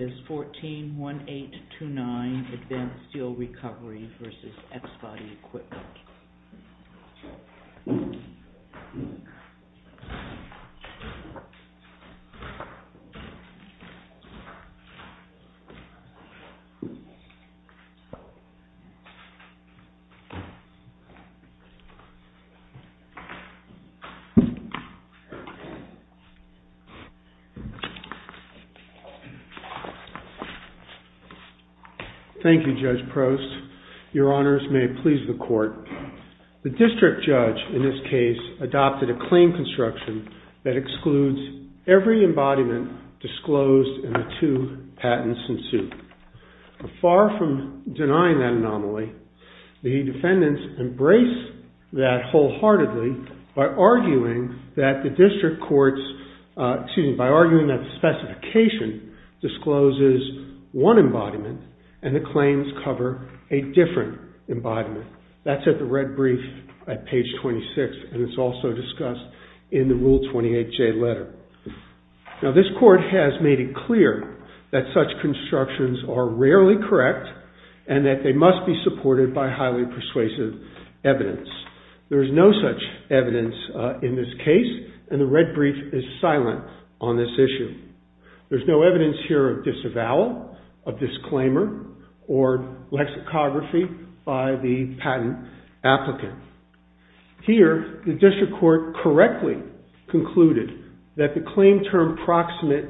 141829 Advanced Steel Recovery v. X-Body Equipment. Thank you, Judge Prost. Your Honors, may it please the Court. The district judge in this case adopted a claim construction that excludes every embodiment disclosed in the two patents in suit. Far from denying that anomaly, the defendants embrace that wholeheartedly by arguing that the district court's specification discloses one embodiment and the claims cover a different embodiment. That's at the red brief at page 26, and it's also discussed in the Rule 28J letter. Now, this Court has made it clear that such constructions are rarely correct and that they must be supported by highly persuasive evidence. There is no such evidence in this case, and the red brief is silent on this issue. There's no evidence here of disavowal, of disclaimer, or lexicography by the patent applicant. Here, the district court correctly concluded that the claim term proximate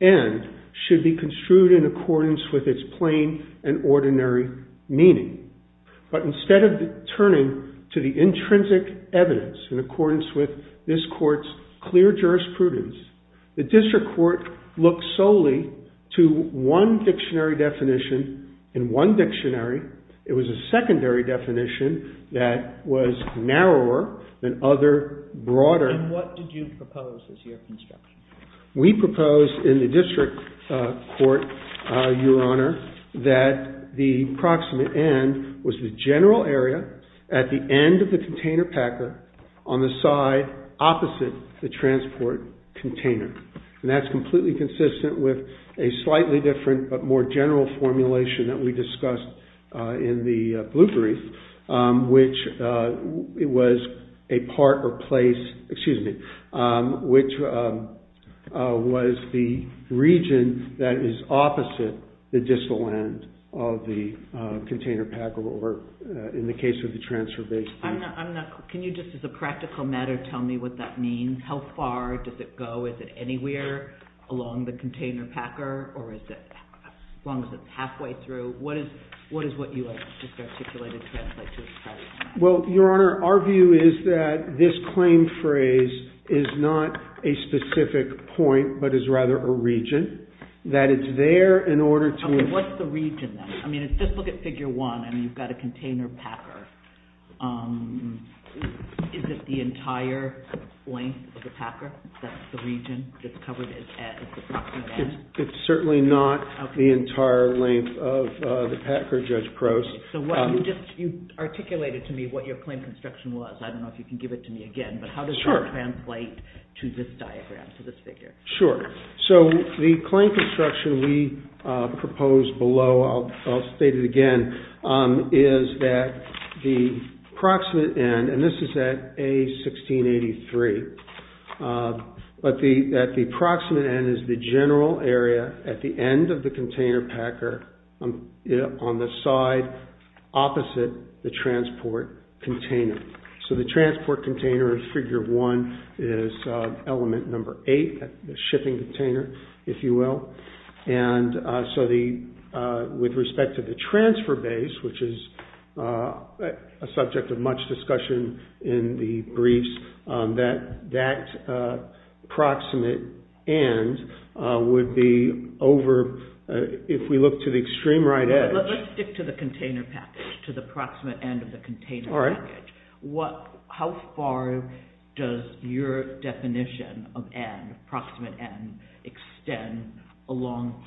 end should be construed in accordance with its plain and ordinary meaning. But instead of turning to the intrinsic evidence in accordance with this Court's clear jurisprudence, the district court looked solely to one dictionary definition. In one dictionary, it was a secondary definition that was narrower than other broader. And what did you propose as your construction? We proposed in the district court, Your Honor, that the proximate end was the general area at the end of the container packer on the side opposite the transport container. And that's completely consistent with a slightly different but more general formulation that we discussed in the blue brief, which was a part or place, excuse me, which was the region that is opposite the distal end of the container packer, or in the case of the transfer base. Can you just, as a practical matter, tell me what that means? How far does it go? Is it anywhere along the container packer, or is it as long as it's halfway through? What is what you just articulated translate to its height? Well, Your Honor, our view is that this claim phrase is not a specific point, but is rather a region, that it's there in order to Okay, what's the region then? I mean, just look at figure one, and you've got a container packer. Is it the entire length of the packer, that the region that's covered is at the proximate end? It's certainly not the entire length of the packer, Judge Prost. So you articulated to me what your claim construction was. I don't know if you can give it to me again, but how does that translate to this diagram, to this figure? Sure. So the claim construction we proposed below, I'll state it again, is that the proximate end, and this is at A1683, but that the proximate end is the general area at the end of the container packer, on the side opposite the transport container. So the transport container, figure one, is element number eight, the shipping container, if you will. And so with respect to the transfer base, which is a subject of much discussion in the briefs, that that proximate end would be over, if we look to the extreme right edge Let's stick to the container package, to the proximate end of the container package. How far does your definition of end, proximate end, extend along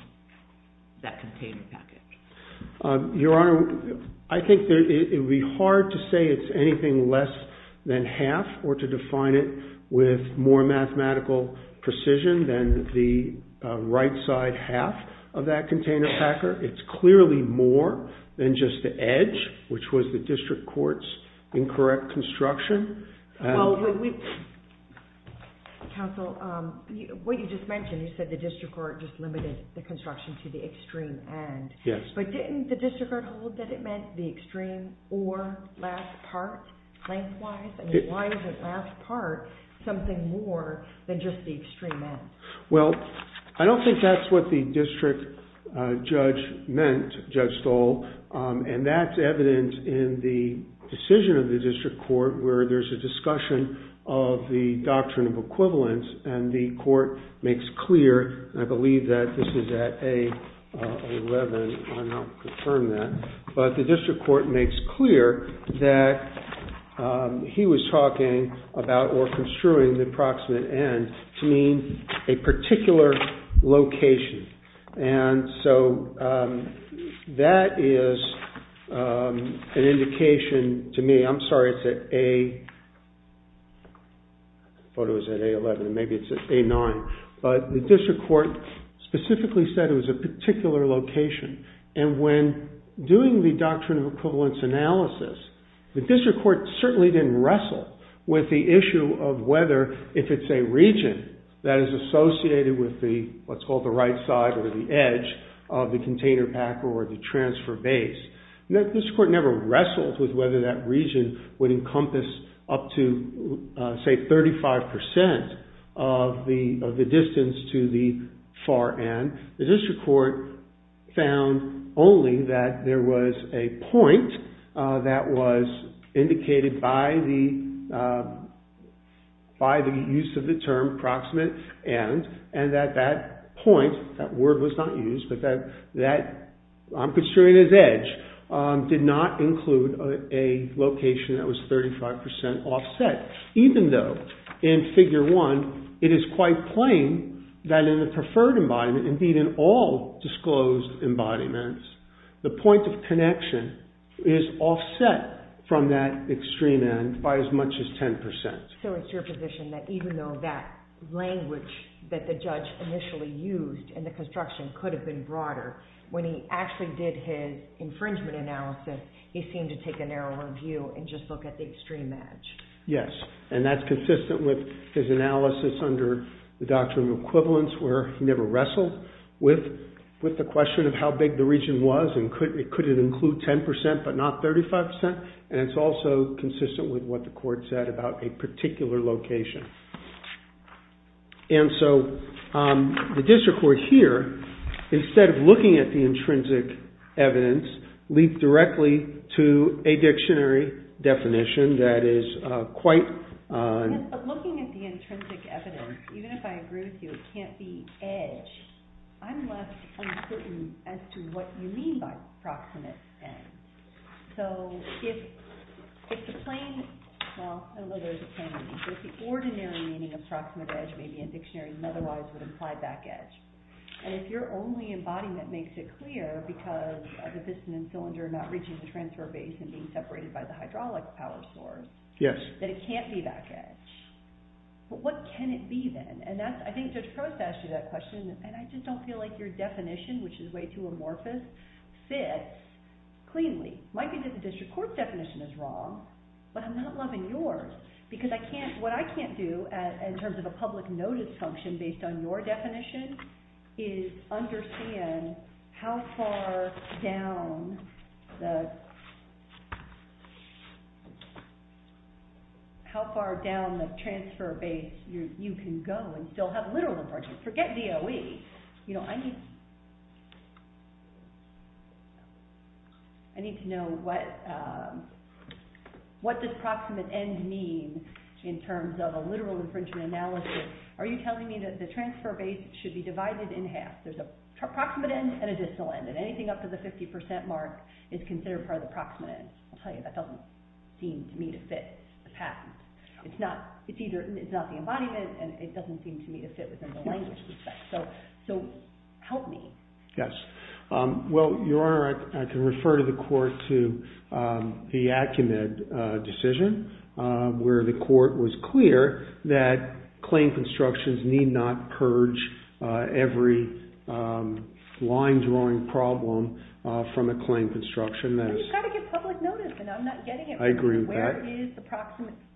that container package? Your Honor, I think it would be hard to say it's anything less than half, or to define it with more mathematical precision than the right side half of that container packer. It's clearly more than just the edge, which was the district court's incorrect construction. Counsel, what you just mentioned, you said the district court just limited the construction to the extreme end. Yes. But didn't the district court hold that it meant the extreme or last part lengthwise? I mean, why isn't last part something more than just the extreme end? Well, I don't think that's what the district judge meant, Judge Stoll. And that's evident in the decision of the district court, where there's a discussion of the doctrine of equivalence. And the court makes clear, and I believe that this is at A11, and I'll confirm that. But the district court makes clear that he was talking about or construing the proximate end to mean a particular location. And so that is an indication to me, I'm sorry it's at A, I thought it was at A11, maybe it's at A9. But the district court specifically said it was a particular location. And when doing the doctrine of equivalence analysis, the district court certainly didn't wrestle with the issue of whether, if it's a region that is associated with what's called the right side or the edge of the container pack or the transfer base. The district court never wrestled with whether that region would encompass up to, say, 35% of the distance to the far end. The district court found only that there was a point that was indicated by the use of the term proximate end, and that that point, that word was not used, but that I'm construing as edge, did not include a location that was 35% offset. Even though, in figure one, it is quite plain that in the preferred embodiment, indeed in all disclosed embodiments, the point of connection is offset from that extreme end by as much as 10%. So it's your position that even though that language that the judge initially used in the construction could have been broader, when he actually did his infringement analysis, he seemed to take a narrower view and just look at the extreme edge. Yes, and that's consistent with his analysis under the doctrine of equivalence, where he never wrestled with the question of how big the region was and could it include 10% but not 35%, and it's also consistent with what the court said about a particular location. And so the district court here, instead of looking at the intrinsic evidence, leaped directly to a dictionary definition that is quite... Yes, but looking at the intrinsic evidence, even if I agree with you it can't be edge, I'm less uncertain as to what you mean by proximate end. So if the plain, well, there's a plain meaning, but the ordinary meaning of proximate edge may be in dictionaries and otherwise would imply back edge. And if your only embodiment makes it clear because of the piston and cylinder not reaching the transfer base and being separated by the hydraulic power source, that it can't be back edge. But what can it be then? And I think Judge Probst asked you that question, and I just don't feel like your definition, which is way too amorphous, fits cleanly. It might be that the district court's definition is wrong, but I'm not loving yours. Because what I can't do in terms of a public notice function based on your definition is understand how far down the transfer base you can go and still have literal inference. Forget DOE. I need to know what does proximate end mean in terms of a literal infringement analysis. Are you telling me that the transfer base should be divided in half? There's a proximate end and a distal end, and anything up to the 50% mark is considered part of the proximate end. I'll tell you, that doesn't seem to me to fit the patent. It's not the embodiment, and it doesn't seem to me to fit within the language. So help me. Yes. Well, Your Honor, I can refer to the court to the Acumed decision, where the court was clear that claim constructions need not purge every line drawing problem from a claim construction. But you've got to give public notice, and I'm not getting it. I agree with that.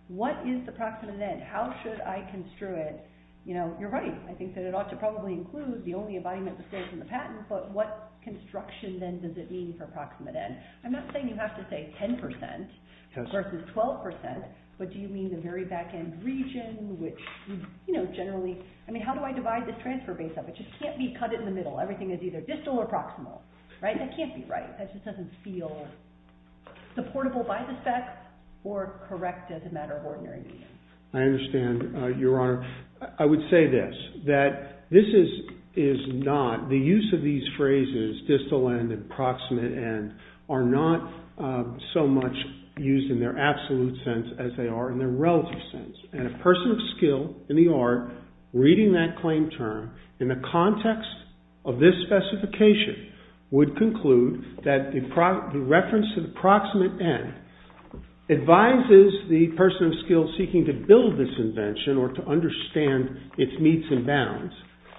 What is the proximate end? How should I construe it? You're right. I think that it ought to probably include the only embodiment that stays in the patent. But what construction, then, does it mean for proximate end? I'm not saying you have to say 10% versus 12%. But do you mean the very back-end region, which generally… I mean, how do I divide this transfer base up? It just can't be cut in the middle. Everything is either distal or proximal. Right? That can't be right. That just doesn't feel supportable by the specs or correct as a matter of ordinary meaning. I understand, Your Honor. I would say this, that this is not… The use of these phrases, distal end and proximate end, are not so much used in their absolute sense as they are in their relative sense. And a person of skill in the art, reading that claim term, in the context of this specification, would conclude that the reference to the proximate end advises the person of skill seeking to build this invention or to understand its meets and bounds.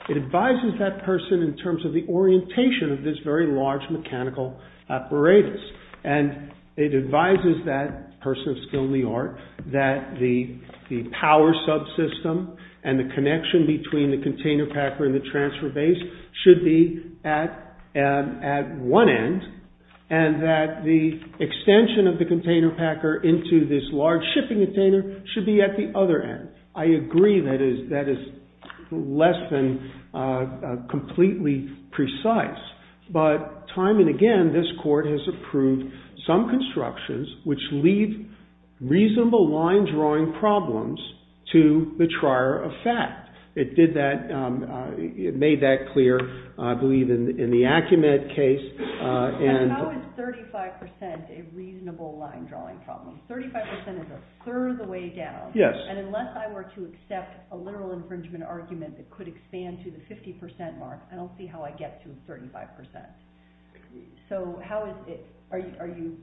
It advises that person in terms of the orientation of this very large mechanical apparatus. And it advises that person of skill in the art that the power subsystem and the connection between the container packer and the transfer base should be at one end and that the extension of the container packer into this large shipping container should be at the other end. I agree that is less than completely precise. But time and again, this court has approved some constructions which leave reasonable line drawing problems to the trier of fact. It did that, it made that clear, I believe, in the Acumen case. And how is 35% a reasonable line drawing problem? 35% is a third of the way down. Yes. And unless I were to accept a literal infringement argument that could expand to the 50% mark, I don't see how I get to 35%. So how is it? Are you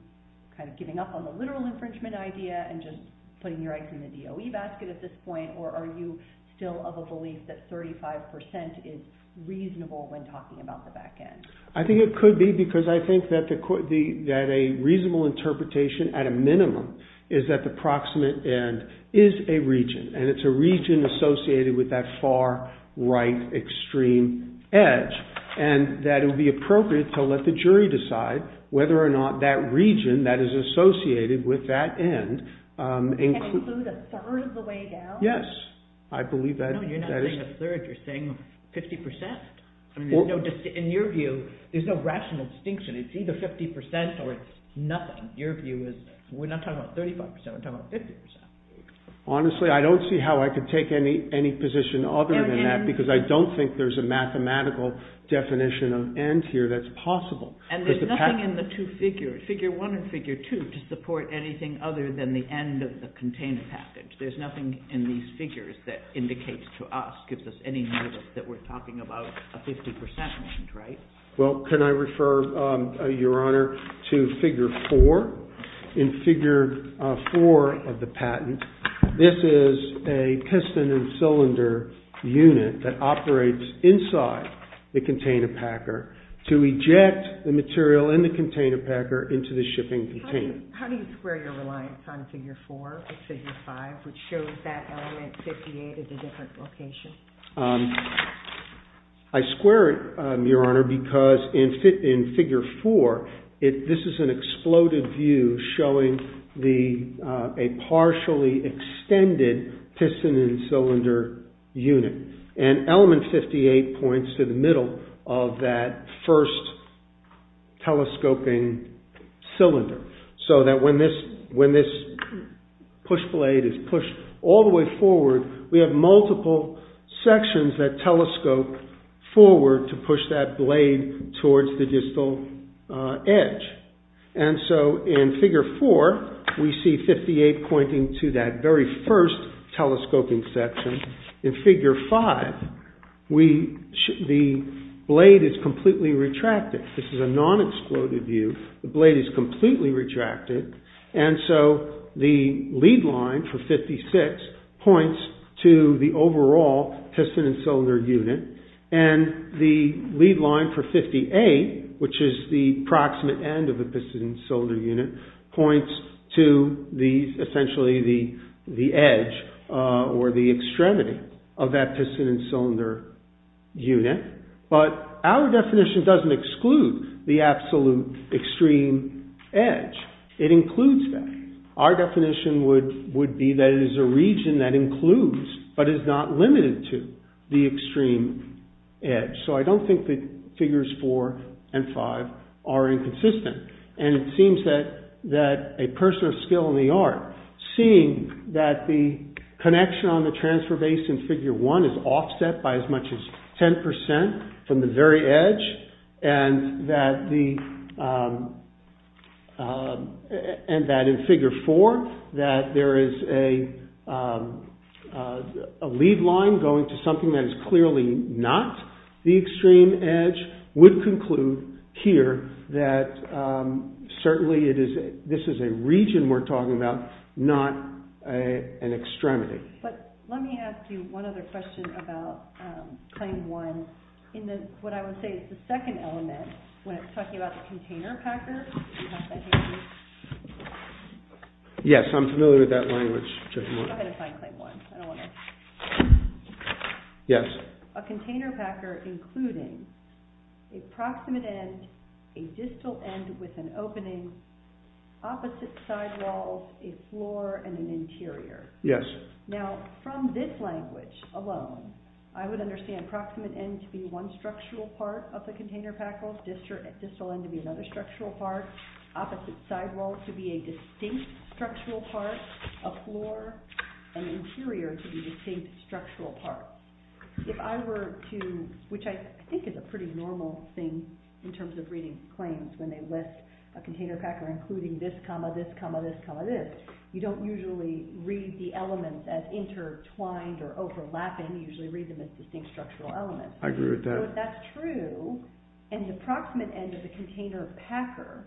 kind of giving up on the literal infringement idea and just putting your eggs in the DOE basket at this point? Or are you still of a belief that 35% is reasonable when talking about the back end? I think it could be because I think that a reasonable interpretation at a minimum is that the proximate end is a region. And it's a region associated with that far right extreme edge. And that it would be appropriate to let the jury decide whether or not that region that is associated with that end can include a third of the way down? Yes. I believe that is. No, you're not saying a third, you're saying 50%. In your view, there's no rational distinction. It's either 50% or it's nothing. Your view is we're not talking about 35%, we're talking about 50%. Honestly, I don't see how I could take any position other than that because I don't think there's a mathematical definition of end here that's possible. And there's nothing in the two figures, figure one and figure two, to support anything other than the end of the contained package. There's nothing in these figures that indicates to us, gives us any notice, that we're talking about a 50% mark, right? Well, can I refer, Your Honor, to figure four? In figure four of the patent, this is a piston and cylinder unit that operates inside the container packer to eject the material in the container packer into the shipping container. How do you square your reliance on figure four or figure five, which shows that element 58 is a different location? I square it, Your Honor, because in figure four, this is an exploded view showing a partially extended piston and cylinder unit. And element 58 points to the middle of that first telescoping cylinder so that when this push blade is pushed all the way forward, we have multiple sections that telescope forward to push that blade towards the distal edge. And so, in figure four, we see 58 pointing to that very first telescoping section. In figure five, the blade is completely retracted. This is a non-exploded view. The blade is completely retracted. And so, the lead line for 56 points to the overall piston and cylinder unit. And the lead line for 58, which is the proximate end of the piston and cylinder unit, points to essentially the edge or the extremity of that piston and cylinder unit. But our definition doesn't exclude the absolute extreme edge. It includes that. Our definition would be that it is a region that includes but is not limited to the extreme edge. So, I don't think that figures four and five are inconsistent. And it seems that a person of skill in the art, seeing that the connection on the transfer base in figure one is offset by as much as 10% from the very edge and that in figure four that there is a lead line going to something that is clearly not the extreme edge would conclude here that certainly this is a region we're talking about, not an extremity. But let me ask you one other question about claim one. What I would say is the second element when it's talking about the container packer. Do you have that here? Yes, I'm familiar with that language. Go ahead and find claim one. Yes. A container packer including a proximate end, a distal end with an opening, opposite side walls, a floor, and an interior. Yes. Now, from this language alone, I would understand proximate end to be one structural part of the container packer, distal end to be another structural part, opposite side walls to be a distinct structural part, a floor, and interior to be a distinct structural part. If I were to, which I think is a pretty normal thing in terms of reading claims when they list a container packer including this, this, this, this, you don't usually read the elements as intertwined or overlapping. You usually read them as distinct structural elements. I agree with that. So if that's true and the proximate end of the container packer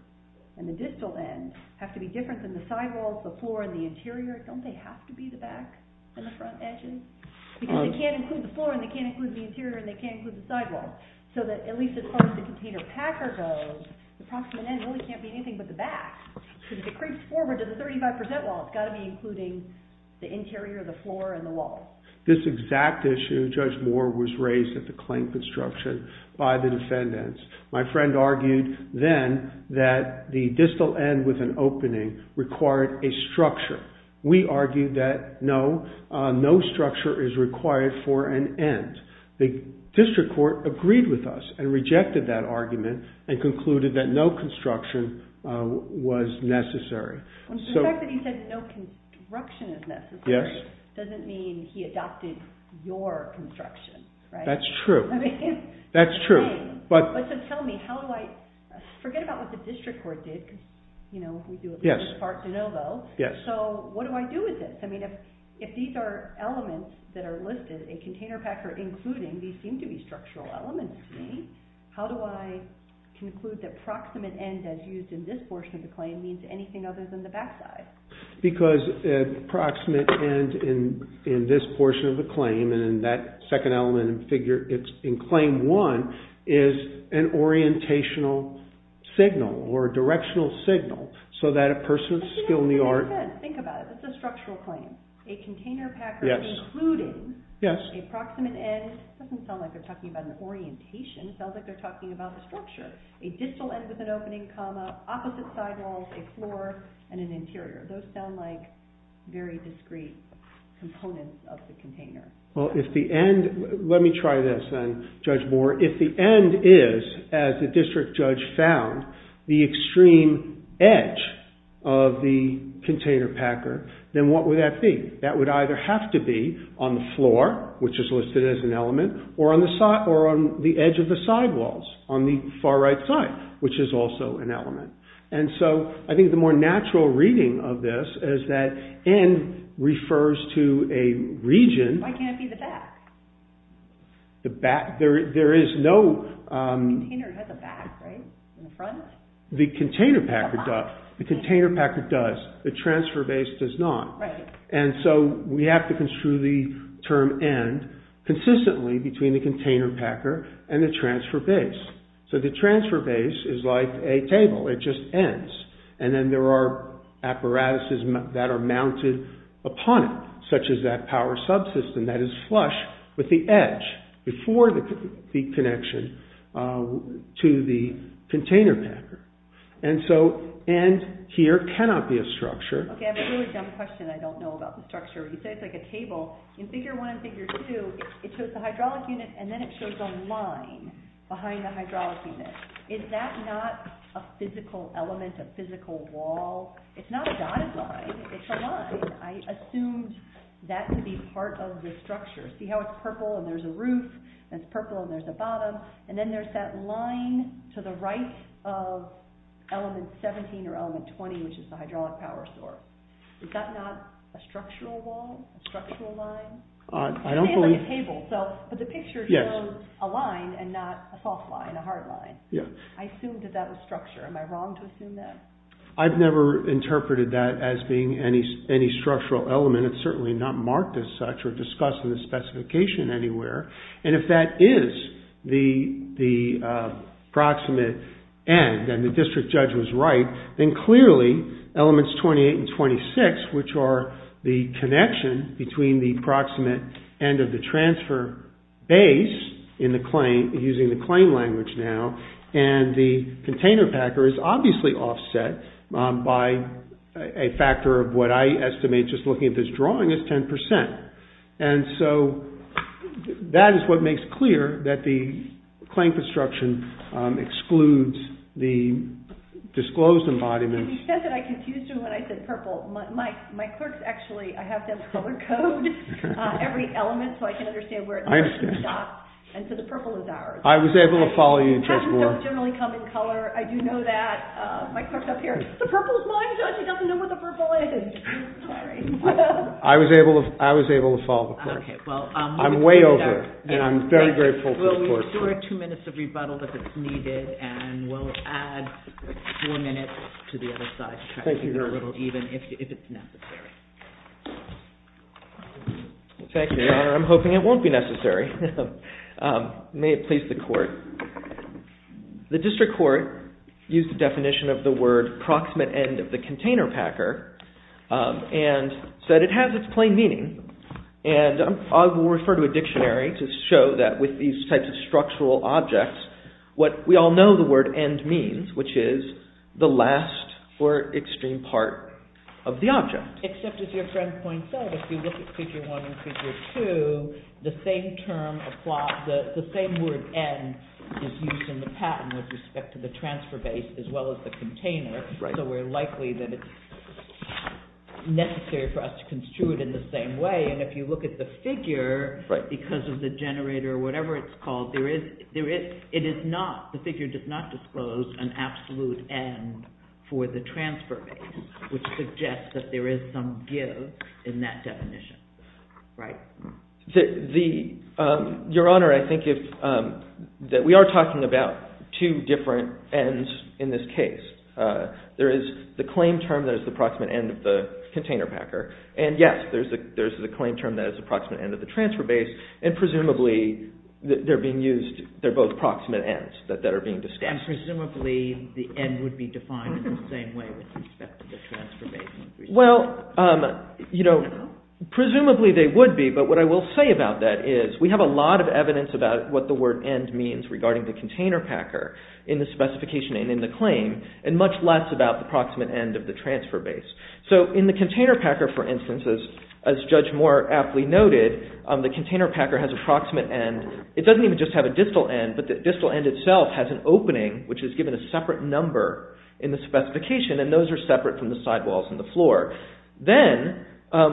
and the distal end have to be different than the side walls, the floor, and the interior, don't they have to be the back and the front edges? Because they can't include the floor and they can't include the interior and they can't include the side walls. So that at least as far as the container packer goes, the proximate end really can't be anything but the back. If it creeps forward to the 35 percent wall, it's got to be including the interior, the floor, and the wall. This exact issue, Judge Moore was raised at the claim construction by the defendants. My friend argued then that the distal end with an opening required a structure. We argued that no, no structure is required for an end. The district court agreed with us and rejected that argument and concluded that no construction was necessary. The fact that he said no construction is necessary doesn't mean he adopted your construction, right? That's true. That's true. So tell me, forget about what the district court did. We do at least part to no vote. So what do I do with this? If these are elements that are listed, a container packer including these seem to be structural elements to me, how do I conclude that proximate end as used in this portion of the claim means anything other than the back side? Because a proximate end in this portion of the claim and in that second element in claim one is an orientational signal or a directional signal so that a person's skill in the art Think about it. It's a structural claim. A container packer including a proximate end, it doesn't sound like they're talking about an orientation. It sounds like they're talking about the structure. A distal end with an opening comma, opposite side walls, a floor, and an interior. Those sound like very discrete components of the container. Well, if the end, let me try this then, Judge Moore. If the end is, as the district judge found, the extreme edge of the container packer, then what would that be? That would either have to be on the floor, which is listed as an element, or on the edge of the side walls on the far right side, which is also an element. And so I think the more natural reading of this is that end refers to a region. Why can't it be the back? The back? There is no… The container has a back, right? In the front? The container packer does. The container packer does. The transfer base does not. And so we have to construe the term end consistently between the container packer and the transfer base. So the transfer base is like a table. It just ends. And then there are apparatuses that are mounted upon it, such as that power subsystem that is flush with the edge before the connection to the container packer. And so end here cannot be a structure. Okay, I have a really dumb question I don't know about the structure. You say it's like a table. In Figure 1 and Figure 2, it shows the hydraulic unit, and then it shows a line behind the hydraulic unit. Is that not a physical element, a physical wall? It's not a dotted line. It's a line. I assumed that to be part of the structure. See how it's purple and there's a roof, and it's purple and there's a bottom, and then there's that line to the right of element 17 or element 20, which is the hydraulic power source. Is that not a structural wall, a structural line? I don't believe... It is like a table, but the picture shows a line and not a soft line, a hard line. I assumed that that was structure. Am I wrong to assume that? I've never interpreted that as being any structural element. It's certainly not marked as such or discussed in the specification anywhere. If that is the proximate end and the district judge was right, then clearly elements 28 and 26, which are the connection between the proximate end of the transfer base using the claim language now and the container packer is obviously offset by a factor of what I estimate, just looking at this drawing, is 10%. And so that is what makes clear that the claim construction excludes the disclosed embodiments. He said that I confused him when I said purple. My clerk's actually, I have to have color code every element so I can understand where it starts and stops. I understand. And so the purple is ours. I was able to follow you, Judge Moore. Colors don't generally come in color. I do know that. My clerk's up here. The purple is mine, Judge. He doesn't know what the purple is. Sorry. I was able to follow the clerk. I'm way over and I'm very grateful to the clerk. We'll ensure two minutes of rebuttal if it's needed and we'll add four minutes to the other side. Thank you, Your Honor. Even if it's necessary. Thank you, Your Honor. I'm hoping it won't be necessary. May it please the court. The district court used the definition of the word proximate end of the container packer and said it has its plain meaning. And I will refer to a dictionary to show that with these types of structural objects, what we all know the word end means, which is the last or extreme part of the object. Except as your friend points out, if you look at Figure 1 and Figure 2, the same word end is used in the patent with respect to the transfer base as well as the container. So we're likely that it's necessary for us to construe it in the same way. And if you look at the figure, because of the generator or whatever it's called, the figure does not disclose an absolute end for the transfer base, which suggests that there is some give in that definition. Your Honor, I think that we are talking about two different ends in this case. There is the claim term that is the proximate end of the container packer, and yes, there's the claim term that is the proximate end of the transfer base, and presumably they're both proximate ends that are being discussed. And presumably the end would be defined in the same way with respect to the transfer base. Well, presumably they would be, but what I will say about that is we have a lot of evidence about what the word end means regarding the container packer in the specification and in the claim, and much less about the proximate end of the transfer base. So in the container packer, for instance, as Judge Moore aptly noted, the container packer has a proximate end. It doesn't even just have a distal end, but the distal end itself has an opening, which is given a separate number in the specification, and those are separate from the sidewalls and the floor. Then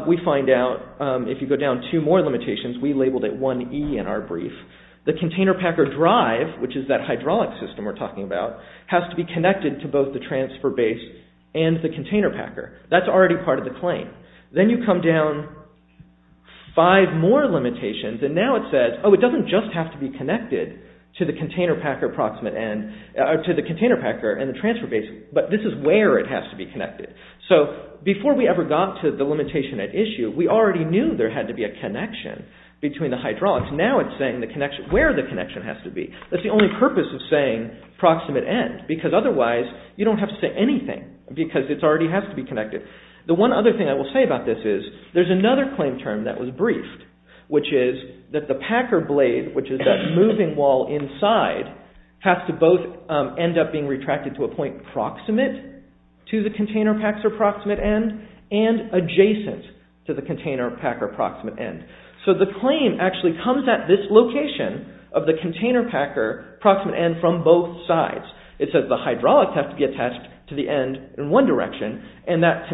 we find out, if you go down two more limitations, we labeled it 1E in our brief, the container packer drive, which is that hydraulic system we're talking about, has to be connected to both the transfer base and the container packer. That's already part of the claim. Then you come down five more limitations, and now it says, oh, it doesn't just have to be connected to the container packer and the transfer base, but this is where it has to be connected. So before we ever got to the limitation at issue, we already knew there had to be a connection between the hydraulics. Now it's saying where the connection has to be. That's the only purpose of saying proximate end, because otherwise you don't have to say anything, because it already has to be connected. The one other thing I will say about this is there's another claim term that was briefed, which is that the packer blade, which is that moving wall inside, has to both end up being retracted to a point proximate to the container packer proximate end and adjacent to the container packer proximate end. So the claim actually comes at this location of the container packer proximate end from both sides. It says the hydraulics have to be attached to the end in one direction, and that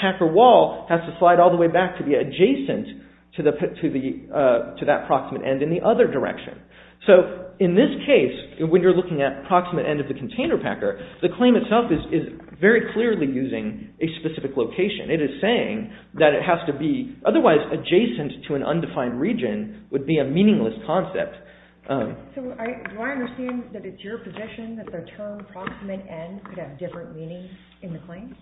packer wall has to slide all the way back to be adjacent to that proximate end in the other direction. So in this case, when you're looking at proximate end of the container packer, the claim itself is very clearly using a specific location. It is saying that it has to be otherwise adjacent to an undefined region would be a meaningless concept. So do I understand that it's your position that the term proximate end could have different meanings in the claim?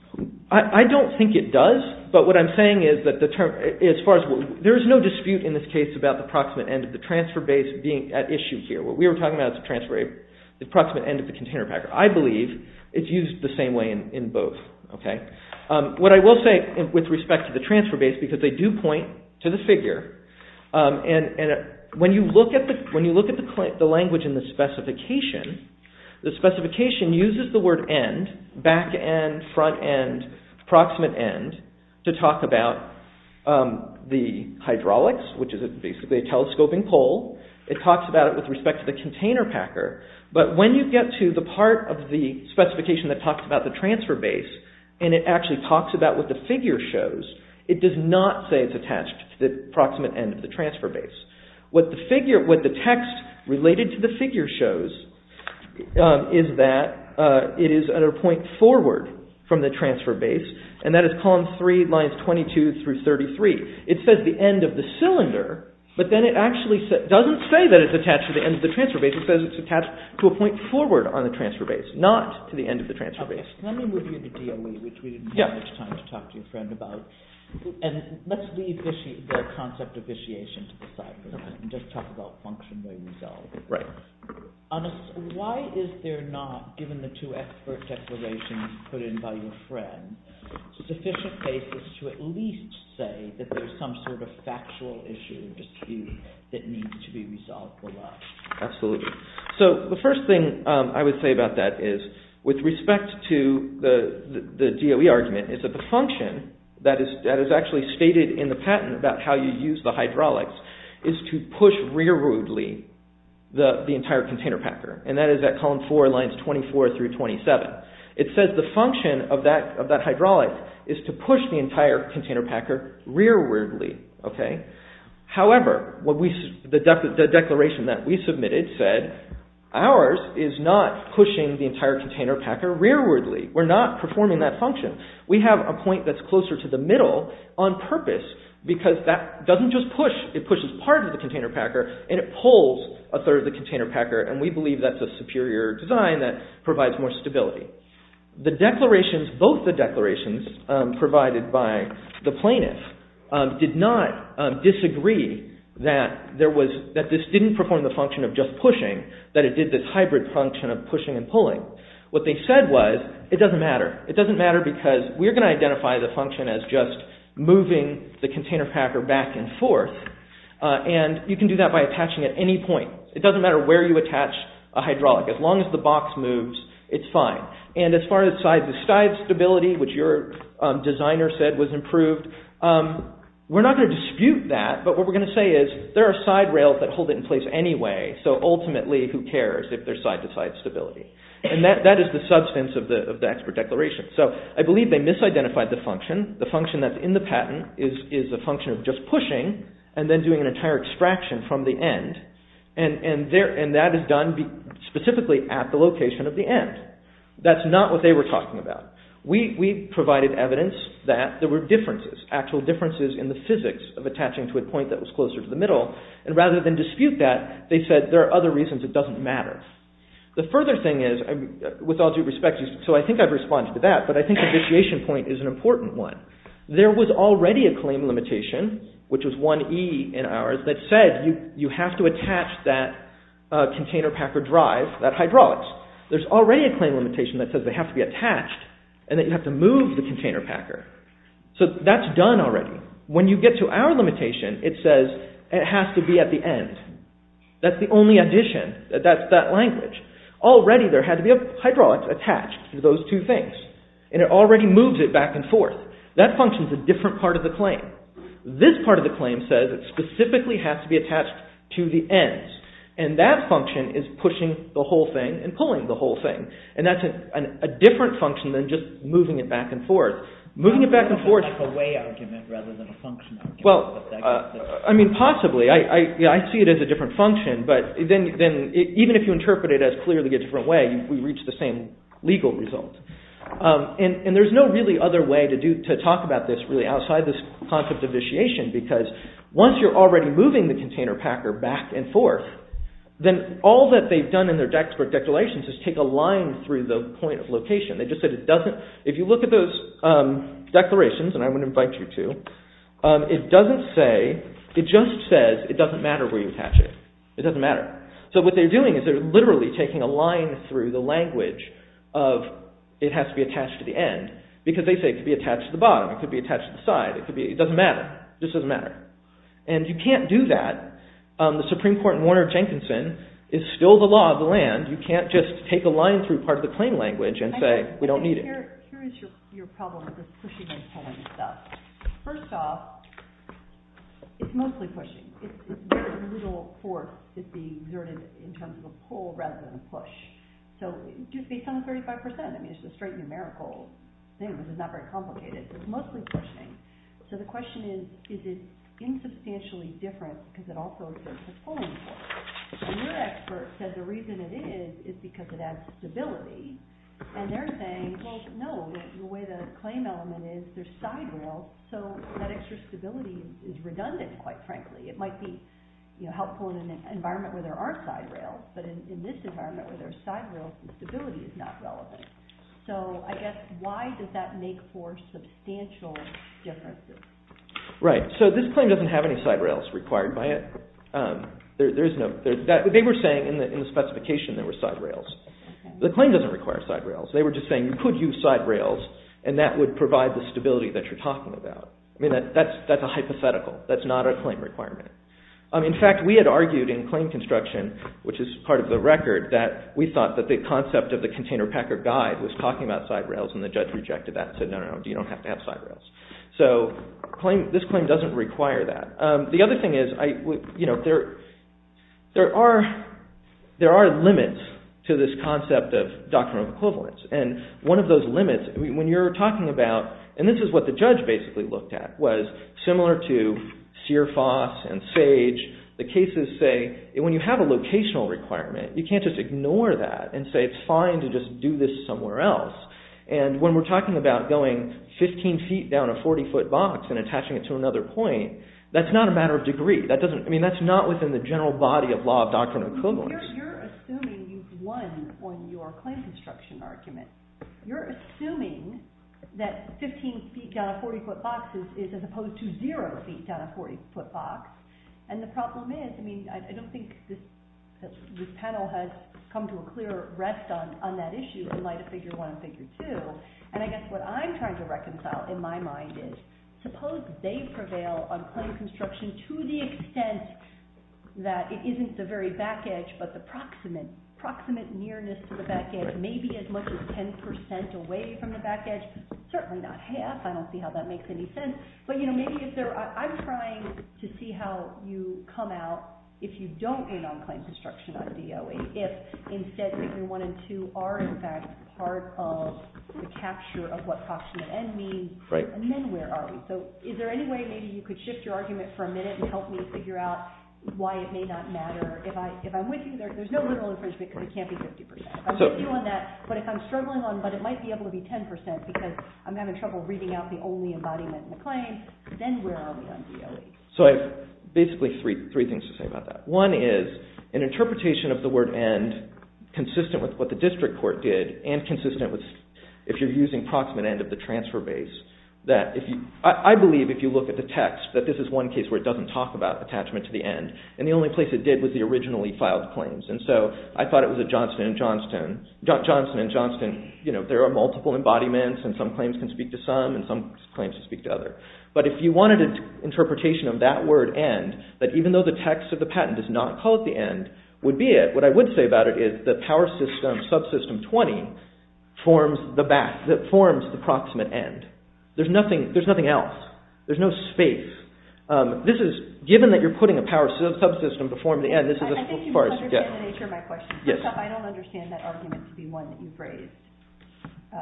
I don't think it does, but what I'm saying is that the term, as far as, there is no dispute in this case about the proximate end of the transfer base being at issue here. What we are talking about is the proximate end of the container packer. I believe it's used the same way in both. What I will say with respect to the transfer base, because they do point to the figure, and when you look at the language in the specification, the specification uses the word end, back end, front end, proximate end, to talk about the hydraulics, which is basically a telescoping pole. It talks about it with respect to the container packer, but when you get to the part of the specification that talks about the transfer base, and it actually talks about what the figure shows, it does not say it's attached to the proximate end of the transfer base. What the text related to the figure shows is that it is at a point forward from the transfer base, and that is column 3, lines 22 through 33. It says the end of the cylinder, but then it actually doesn't say that it's attached to the end of the transfer base. It says it's attached to a point forward on the transfer base, not to the end of the transfer base. Let me move you to DOE, which we didn't have much time to talk to your friend about, and let's leave the concept of vitiation to the side for now and just talk about functionally resolved. Why is there not, given the two expert declarations put in by your friend, sufficient basis to at least say that there's some sort of factual issue that needs to be resolved for us? Absolutely. So the first thing I would say about that is, with respect to the DOE argument, is that the function that is actually stated in the patent about how you use the hydraulics is to push rearwardly the entire container packer, and that is at column 4, lines 24 through 27. It says the function of that hydraulic is to push the entire container packer rearwardly. However, the declaration that we submitted said ours is not pushing the entire container packer rearwardly. We're not performing that function. We have a point that's closer to the middle on purpose because that doesn't just push, it pushes part of the container packer and it pulls a third of the container packer and we believe that's a superior design that provides more stability. Both the declarations provided by the plaintiff did not disagree that this didn't perform the function of just pushing, that it did this hybrid function of pushing and pulling. What they said was, it doesn't matter. It doesn't matter because we're going to identify the function as just moving the container packer back and forth and you can do that by attaching at any point. It doesn't matter where you attach a hydraulic. As long as the box moves, it's fine. And as far as side-to-side stability, which your designer said was improved, we're not going to dispute that, but what we're going to say is there are side rails that hold it in place anyway, so ultimately who cares if there's side-to-side stability. And that is the substance of the expert declaration. So I believe they misidentified the function. The function that's in the patent is a function of just pushing and then doing an entire extraction from the end and that is done specifically at the location of the end. That's not what they were talking about. We provided evidence that there were differences, actual differences in the physics of attaching to a point that was closer to the middle and rather than dispute that, they said there are other reasons it doesn't matter. The further thing is, with all due respect, so I think I've responded to that, but I think the initiation point is an important one. There was already a claim limitation, which was 1E in ours, that said you have to attach that container packer drive, that hydraulics. There's already a claim limitation that says they have to be attached and that you have to move the container packer. So that's done already. When you get to our limitation, it says it has to be at the end. That's the only addition. That's that language. Already there had to be a hydraulics attached to those two things and it already moves it back and forth. That function is a different part of the claim. This part of the claim says it specifically has to be attached to the ends and that function is pushing the whole thing and pulling the whole thing and that's a different function than just moving it back and forth. Moving it back and forth… It's a way argument rather than a function argument. Well, I mean possibly. I see it as a different function, but then even if you interpret it as clearly a different way, we reach the same legal result. And there's no really other way to talk about this really outside this concept of initiation because once you're already moving the container packer back and forth, then all that they've done in their Daxberg declarations is take a line through the point of location. They just said it doesn't… If you look at those declarations, and I would invite you to, it doesn't say… It just says it doesn't matter where you attach it. It doesn't matter. So what they're doing is they're literally taking a line through the language of it has to be attached to the end because they say it could be attached to the bottom. It could be attached to the side. It doesn't matter. It just doesn't matter. And you can't do that. The Supreme Court in Warner Jenkinson is still the law of the land. You can't just take a line through part of the claim language and say we don't need it. Here is your problem with pushing and pulling stuff. First off, it's mostly pushing. There is little force that's being exerted in terms of a pull rather than a push. So just based on the 35%, I mean, it's a straight numerical thing. It's not very complicated. It's mostly pushing. So the question is, is it insubstantially different because it also exerts a pulling force? And your expert said the reason it is is because it adds stability. And they're saying, well, no, the way the claim element is, there's side rails, so that extra stability is redundant, quite frankly. It might be helpful in an environment where there aren't side rails, but in this environment where there are side rails, the stability is not relevant. So I guess why does that make for substantial differences? Right. So this claim doesn't have any side rails required by it. They were saying in the specification there were side rails. The claim doesn't require side rails. They were just saying you could use side rails, and that would provide the stability that you're talking about. I mean, that's a hypothetical. That's not a claim requirement. In fact, we had argued in claim construction, which is part of the record, that we thought that the concept of the container packer guide was talking about side rails, and the judge rejected that and said, no, no, no, you don't have to have side rails. So this claim doesn't require that. The other thing is there are limits to this concept of doctrinal equivalence, and one of those limits, when you're talking about, and this is what the judge basically looked at, was similar to Searfoss and Sage, the cases say when you have a locational requirement, you can't just ignore that and say it's fine to just do this somewhere else. And when we're talking about going 15 feet down a 40-foot box and attaching it to another point, that's not a matter of degree. I mean, that's not within the general body of law of doctrinal equivalence. You're assuming you've won on your claim construction argument. You're assuming that 15 feet down a 40-foot box is as opposed to zero feet down a 40-foot box, and the problem is, I mean, I don't think this panel has come to a clear rest on that issue in light of figure one and figure two, and I guess what I'm trying to reconcile in my mind is, suppose they prevail on claim construction to the extent that it isn't the very back edge, but the proximate nearness to the back edge, maybe as much as 10% away from the back edge, certainly not half, I don't see how that makes any sense, but I'm trying to see how you come out if you don't win on claim construction on DOE, if instead figure one and two are in fact part of the capture of what proximate end means, and then where are we? So is there any way maybe you could shift your argument for a minute and help me figure out why it may not matter? If I'm with you, there's no literal infringement because it can't be 50%. I'm with you on that, but if I'm struggling on what it might be able to be 10% because I'm having trouble reading out the only embodiment in the claim, then where are we on DOE? So I have basically three things to say about that. One is an interpretation of the word end consistent with what the district court did and consistent with if you're using proximate end of the transfer base. I believe if you look at the text that this is one case where it doesn't talk about attachment to the end, and the only place it did was the originally filed claims, and so I thought it was a Johnson and Johnston. Johnson and Johnston, there are multiple embodiments, and some claims can speak to some, and some claims can speak to others. But if you wanted an interpretation of that word end, that even though the text of the patent does not call it the end, would be it. What I would say about it is the power system subsystem 20 forms the approximate end. There's nothing else. There's no space. This is given that you're putting a power subsystem to form the end. I think you don't understand the nature of my question. First off, I don't understand that argument to be one that you've raised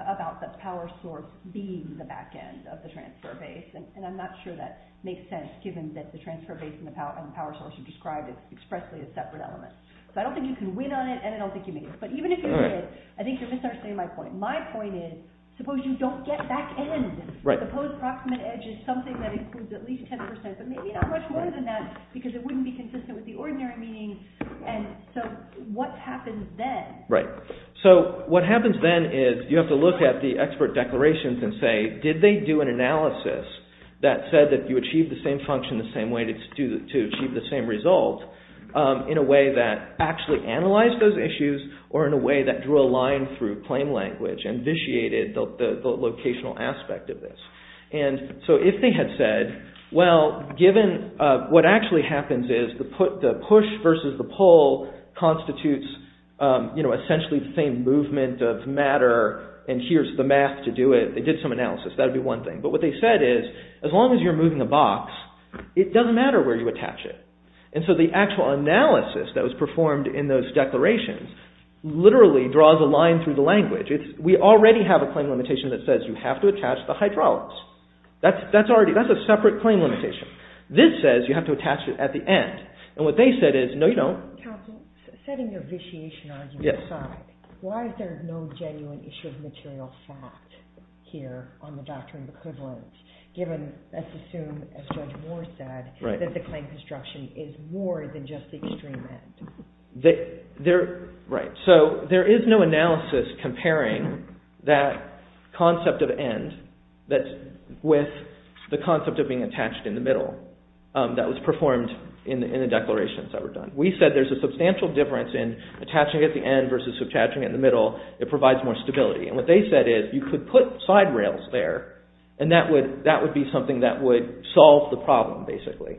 about the power source being the back end of the transfer base, and I'm not sure that makes sense given that the transfer base and the power source you described is expressly a separate element. So I don't think you can win on it, and I don't think you made it. But even if you did, I think you're misunderstanding my point. My point is, suppose you don't get back end. Suppose approximate edge is something that includes at least 10%, but maybe not much more than that because it wouldn't be consistent with the ordinary meaning. So what happens then? What happens then is you have to look at the expert declarations and say, did they do an analysis that said that you achieved the same function the same way to achieve the same result in a way that actually analyzed those issues or in a way that drew a line through claim language, and vitiated the locational aspect of this? And so if they had said, well, given what actually happens is the push versus the pull constitutes essentially the same movement of matter, and here's the math to do it. They did some analysis. That would be one thing. But what they said is, as long as you're moving a box, it doesn't matter where you attach it. And so the actual analysis that was performed in those declarations literally draws a line through the language. We already have a claim limitation that says you have to attach the hydraulics. That's a separate claim limitation. This says you have to attach it at the end. And what they said is, no, you don't. Counsel, setting your vitiation argument aside, why is there no genuine issue of material fact here on the doctrine of equivalence, given, let's assume, as Judge Moore said, that the claim construction is more than just the extreme end? Right. So there is no analysis comparing that concept of end with the concept of being attached in the middle that was performed in the declarations that were done. We said there's a substantial difference in attaching it at the end versus attaching it in the middle. It provides more stability. And what they said is, you could put side rails there, and that would be something that would solve the problem, basically.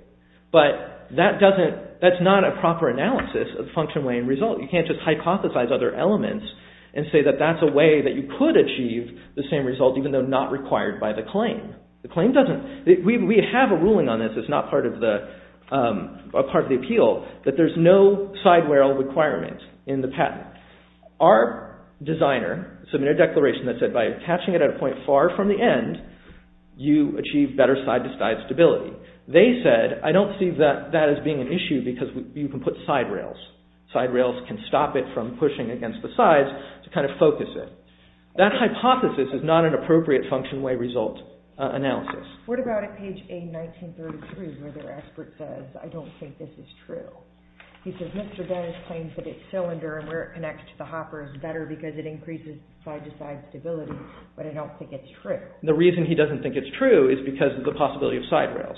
But that's not a proper analysis of function, way, and result. You can't just hypothesize other elements and say that that's a way that you could achieve the same result, even though not required by the claim. We have a ruling on this that's not part of the appeal, that there's no side rail requirement in the patent. Our designer submitted a declaration that said by attaching it at a point far from the end, you achieve better side-to-side stability. They said, I don't see that as being an issue because you can put side rails. Side rails can stop it from pushing against the sides to kind of focus it. That hypothesis is not an appropriate function, way, result analysis. What about at page A1933 where the expert says, I don't think this is true. He says, Mr. Dennis claims that its cylinder and where it connects to the hopper is better because it increases side-to-side stability, but I don't think it's true. The reason he doesn't think it's true is because of the possibility of side rails.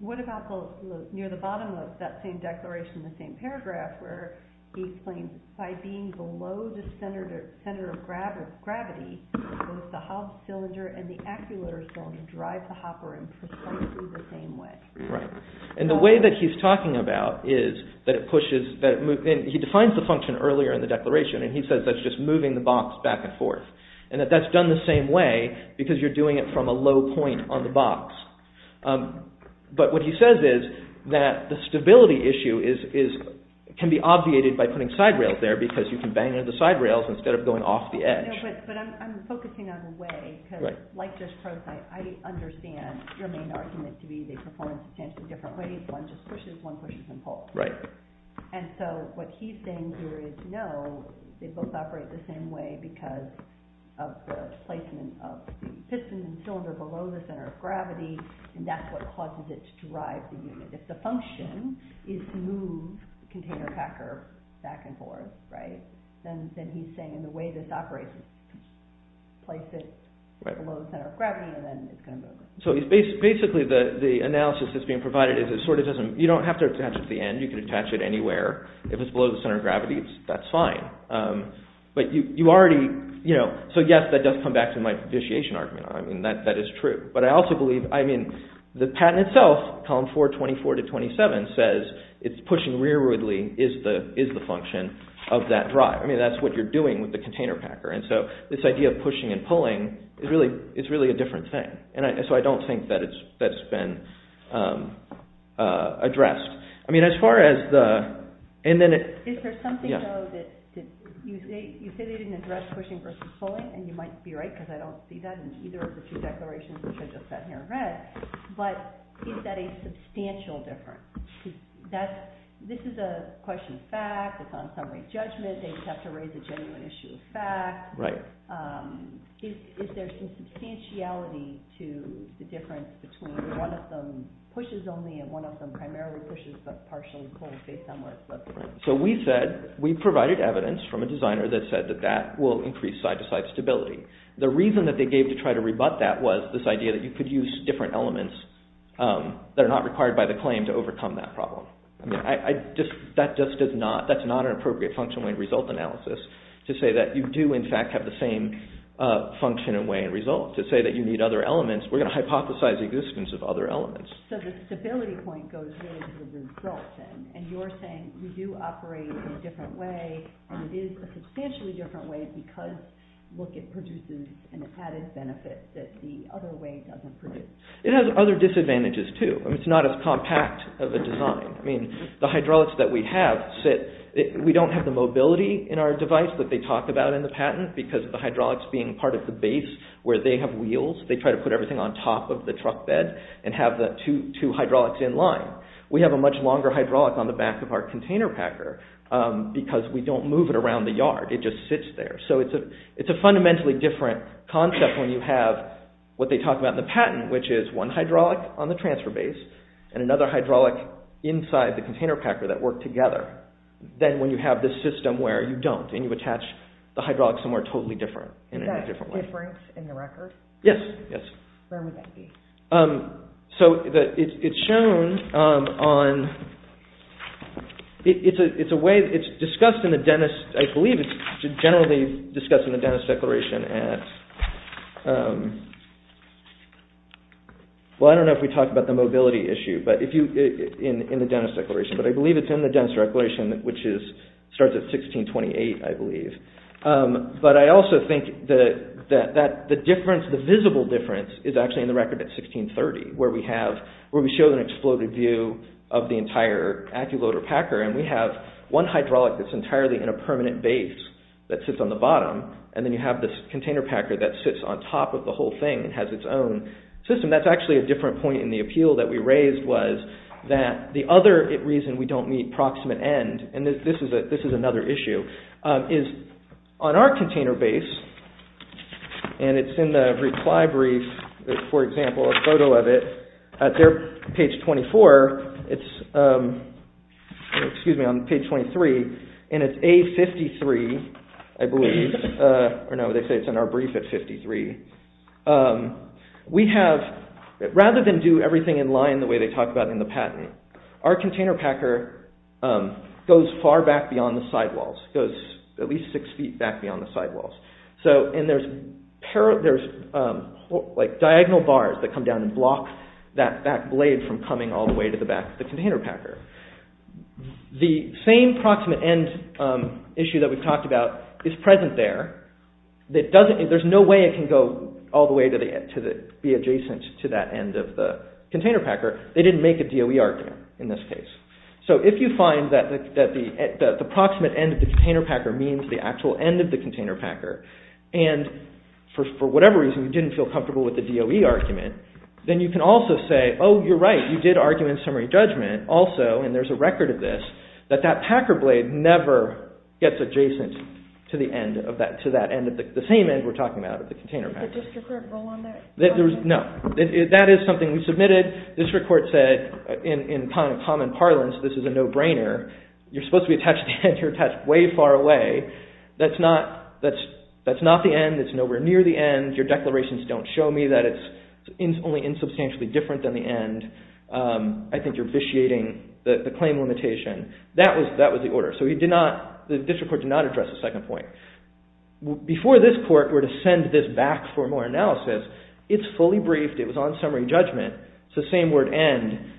What about near the bottom of that same declaration, the same paragraph where he explains by being below the center of gravity, both the cylinder and the acculator cylinder drive the hopper in precisely the same way. Right. And the way that he's talking about is that it pushes, he defines the function earlier in the declaration and he says that's just moving the box back and forth. And that that's done the same way because you're doing it from a low point on the box. But what he says is that the stability issue can be obviated by putting side rails there because you can bang into the side rails instead of going off the edge. But I'm focusing on a way, because like Josh Croce, I understand your main argument to be they perform substantially different ways. One just pushes, one pushes and pulls. Right. And so what he's saying here is no, they both operate the same way because of the placement of the piston and cylinder below the center of gravity and that's what causes it to drive the unit. If the function is to move the container packer back and forth, right, then he's saying the way this operates is to place it below the center of gravity and then it's going to move it. So basically the analysis that's being provided is it sort of doesn't, you don't have to attach it to the end, you can attach it anywhere. If it's below the center of gravity, that's fine. But you already, you know, so yes, that does come back to my fiduciation argument. I mean, that is true. But I also believe, I mean, the patent itself, column 4, 24 to 27, says it's pushing rearwardly is the function of that drive. I mean, that's what you're doing with the container packer. And so this idea of pushing and pulling is really a different thing. And so I don't think that it's, that it's been addressed. I mean, as far as the, and then it, yeah. Is there something though that, you say they didn't address pushing versus pulling and you might be right because I don't see that in either of the two declarations which I just sat here and read. But is that a substantial difference? That, this is a question of fact, it's on summary judgment, they just have to raise a genuine issue of fact. Right. Is there some substantiality to the difference between one of them pushes only and one of them primarily pushes but partially pulls based on where it's listed? So we said, we provided evidence from a designer that said that that will increase side-to-side stability. The reason that they gave to try to rebut that was this idea that you could use different elements that are not required by the claim to overcome that problem. I mean, I just, that just does not, that's not an appropriate function when result analysis to say that you do, in fact, have the same function and way and result. To say that you need other elements, we're going to hypothesize the existence of other elements. So the stability point goes with the result then and you're saying we do operate in a different way and it is a substantially different way because, look, it produces an added benefit that the other way doesn't produce. It has other disadvantages too. I mean, it's not as compact of a design. I mean, the hydraulics that we have sit, we don't have the mobility in our device that they talk about in the patent because the hydraulics being part of the base where they have wheels. They try to put everything on top of the truck bed and have the two hydraulics in line. We have a much longer hydraulic on the back of our container packer because we don't move it around the yard. It just sits there. So it's a fundamentally different concept when you have what they talk about in the patent which is one hydraulic on the transfer base and another hydraulic inside the container packer that work together. Then when you have this system where you don't and you attach the hydraulics somewhere totally different. Is that different in the record? Yes, yes. Where would that be? So it's shown on, it's a way, it's discussed in the dentist, I believe it's generally discussed in the dentist declaration at, well, I don't know if we talked about the mobility issue but if you, in the dentist declaration but I believe it's in the dentist declaration which is, starts at 1628, I believe. But I also think that the difference, the visible difference is actually in the record at 1630 where we have, where we show an exploded view of the entire active loader packer and we have one hydraulic that's entirely in a permanent base that sits on the bottom and then you have this container packer that sits on top of the whole thing and has its own system. That's actually a different point in the appeal that we raised was that the other reason we don't meet proximate end, and this is another issue, is on our container base and it's in the reply brief, for example, a photo of it, at their page 24, it's, excuse me, on page 23 and it's A53, I believe, or no, they say it's in our brief at 53. We have, rather than do everything in line the way they talk about in the patent, our container packer goes far back beyond the sidewalls, goes at least six feet back beyond the sidewalls. So, and there's like diagonal bars that come down and block that back blade from coming all the way to the back of the container packer. The same proximate end issue that we've talked about is present there. There's no way it can go all the way to be adjacent to that end of the container packer. They didn't make a DOE argument in this case. So if you find that the proximate end of the container packer means the actual end of the container packer and for whatever reason you didn't feel comfortable with the DOE argument, then you can also say, oh, you're right, you did argue in summary judgment also and there's a record of this, that that packer blade never gets adjacent to that end at the same end we're talking about at the container packer. Did the district court rule on that? No. That is something we submitted. The district court said in common parlance, this is a no-brainer. You're supposed to be attached to the end, you're attached way far away. That's not the end. It's nowhere near the end. Your declarations don't show me that it's only insubstantially different than the end. I think you're vitiating the claim limitation. That was the order. The district court did not address the second point. Before this court were to send this back for more analysis, it's fully briefed, it was on summary judgment, it's the same word end,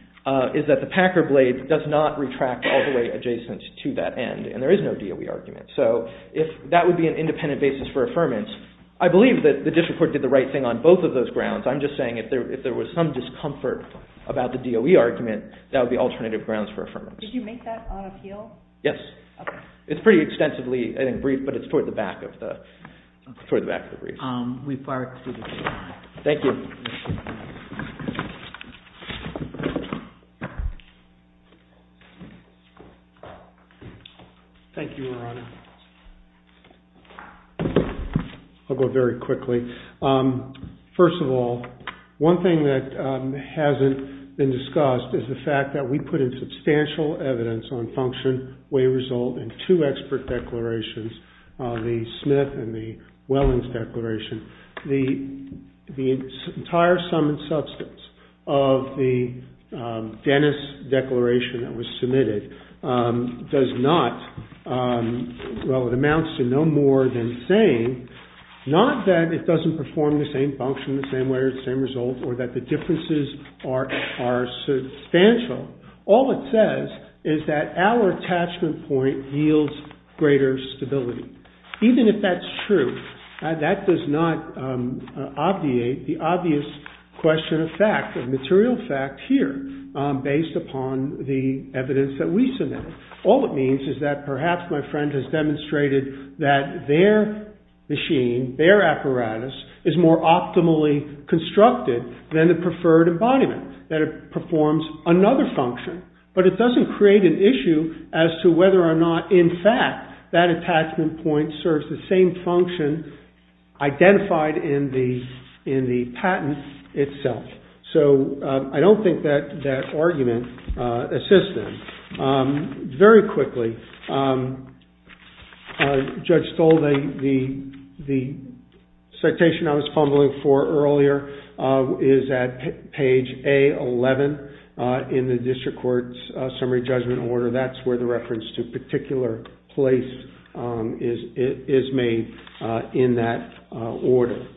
is that the packer blade does not retract all the way adjacent to that end and there is no DOE argument. If that would be an independent basis for affirmance, I believe that the district court did the right thing on both of those grounds. I'm just saying if there was some discomfort about the DOE argument, that would be alternative grounds for affirmance. Did you make that on appeal? Yes. It's pretty extensively briefed, but it's toward the back of the brief. We've far exceeded time. Thank you. Thank you, Your Honor. I'll go very quickly. First of all, one thing that hasn't been discussed is the fact that we put in substantial evidence on function, way result, and two expert declarations, the Smith and the Wellins declaration. The entire sum and substance of the Dennis declaration that was submitted does not, well, it amounts to no more than saying, not that it doesn't perform the same function in the same way or the same result or that the differences are substantial. All it says is that our attachment point yields greater stability. Even if that's true, that does not obviate the obvious question of fact, of material fact here, based upon the evidence that we submitted. All it means is that perhaps my friend has demonstrated that their machine, their apparatus, is more optimally constructed than the preferred embodiment, that it performs another function, but it doesn't create an issue as to whether or not, in fact, that attachment point serves the same function identified in the patent itself. So I don't think that argument assists them. Very quickly, Judge Stoll, the citation I was fumbling for earlier is at page A11 in the district court's summary judgment order. That's where the reference to particular place is made in that order.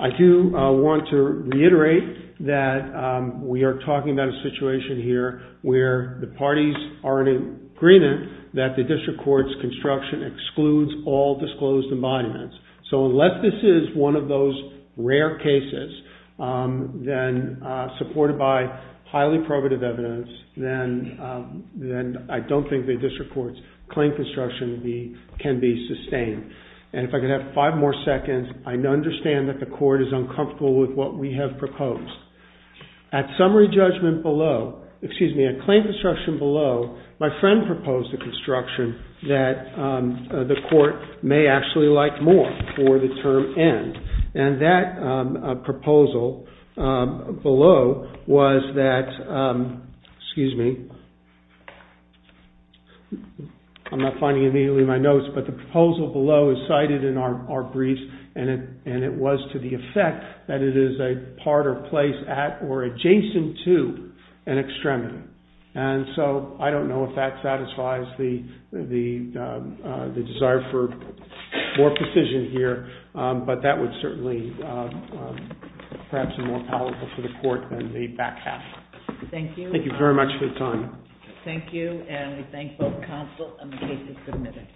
I do want to reiterate that we are talking about a situation here where the parties are in agreement that the district court's construction excludes all disclosed embodiments. So unless this is one of those rare cases, then supported by highly probative evidence, then I don't think the district court's claim construction can be sustained. And if I could have five more seconds, I understand that the court is uncomfortable with what we have proposed. At summary judgment below, excuse me, at claim construction below, my friend proposed a construction that the court may actually like more for the term end. And that proposal below was that, excuse me, I'm not finding immediately my notes, but the proposal below is cited in our briefs and it was to the effect that it is a part or place at or adjacent to an extremity. And so I don't know if that satisfies the desire for more precision here, but that would certainly perhaps be more powerful for the court than the back half. Thank you. Thank you very much for your time. Thank you. And we thank both counsel and the case is submitted.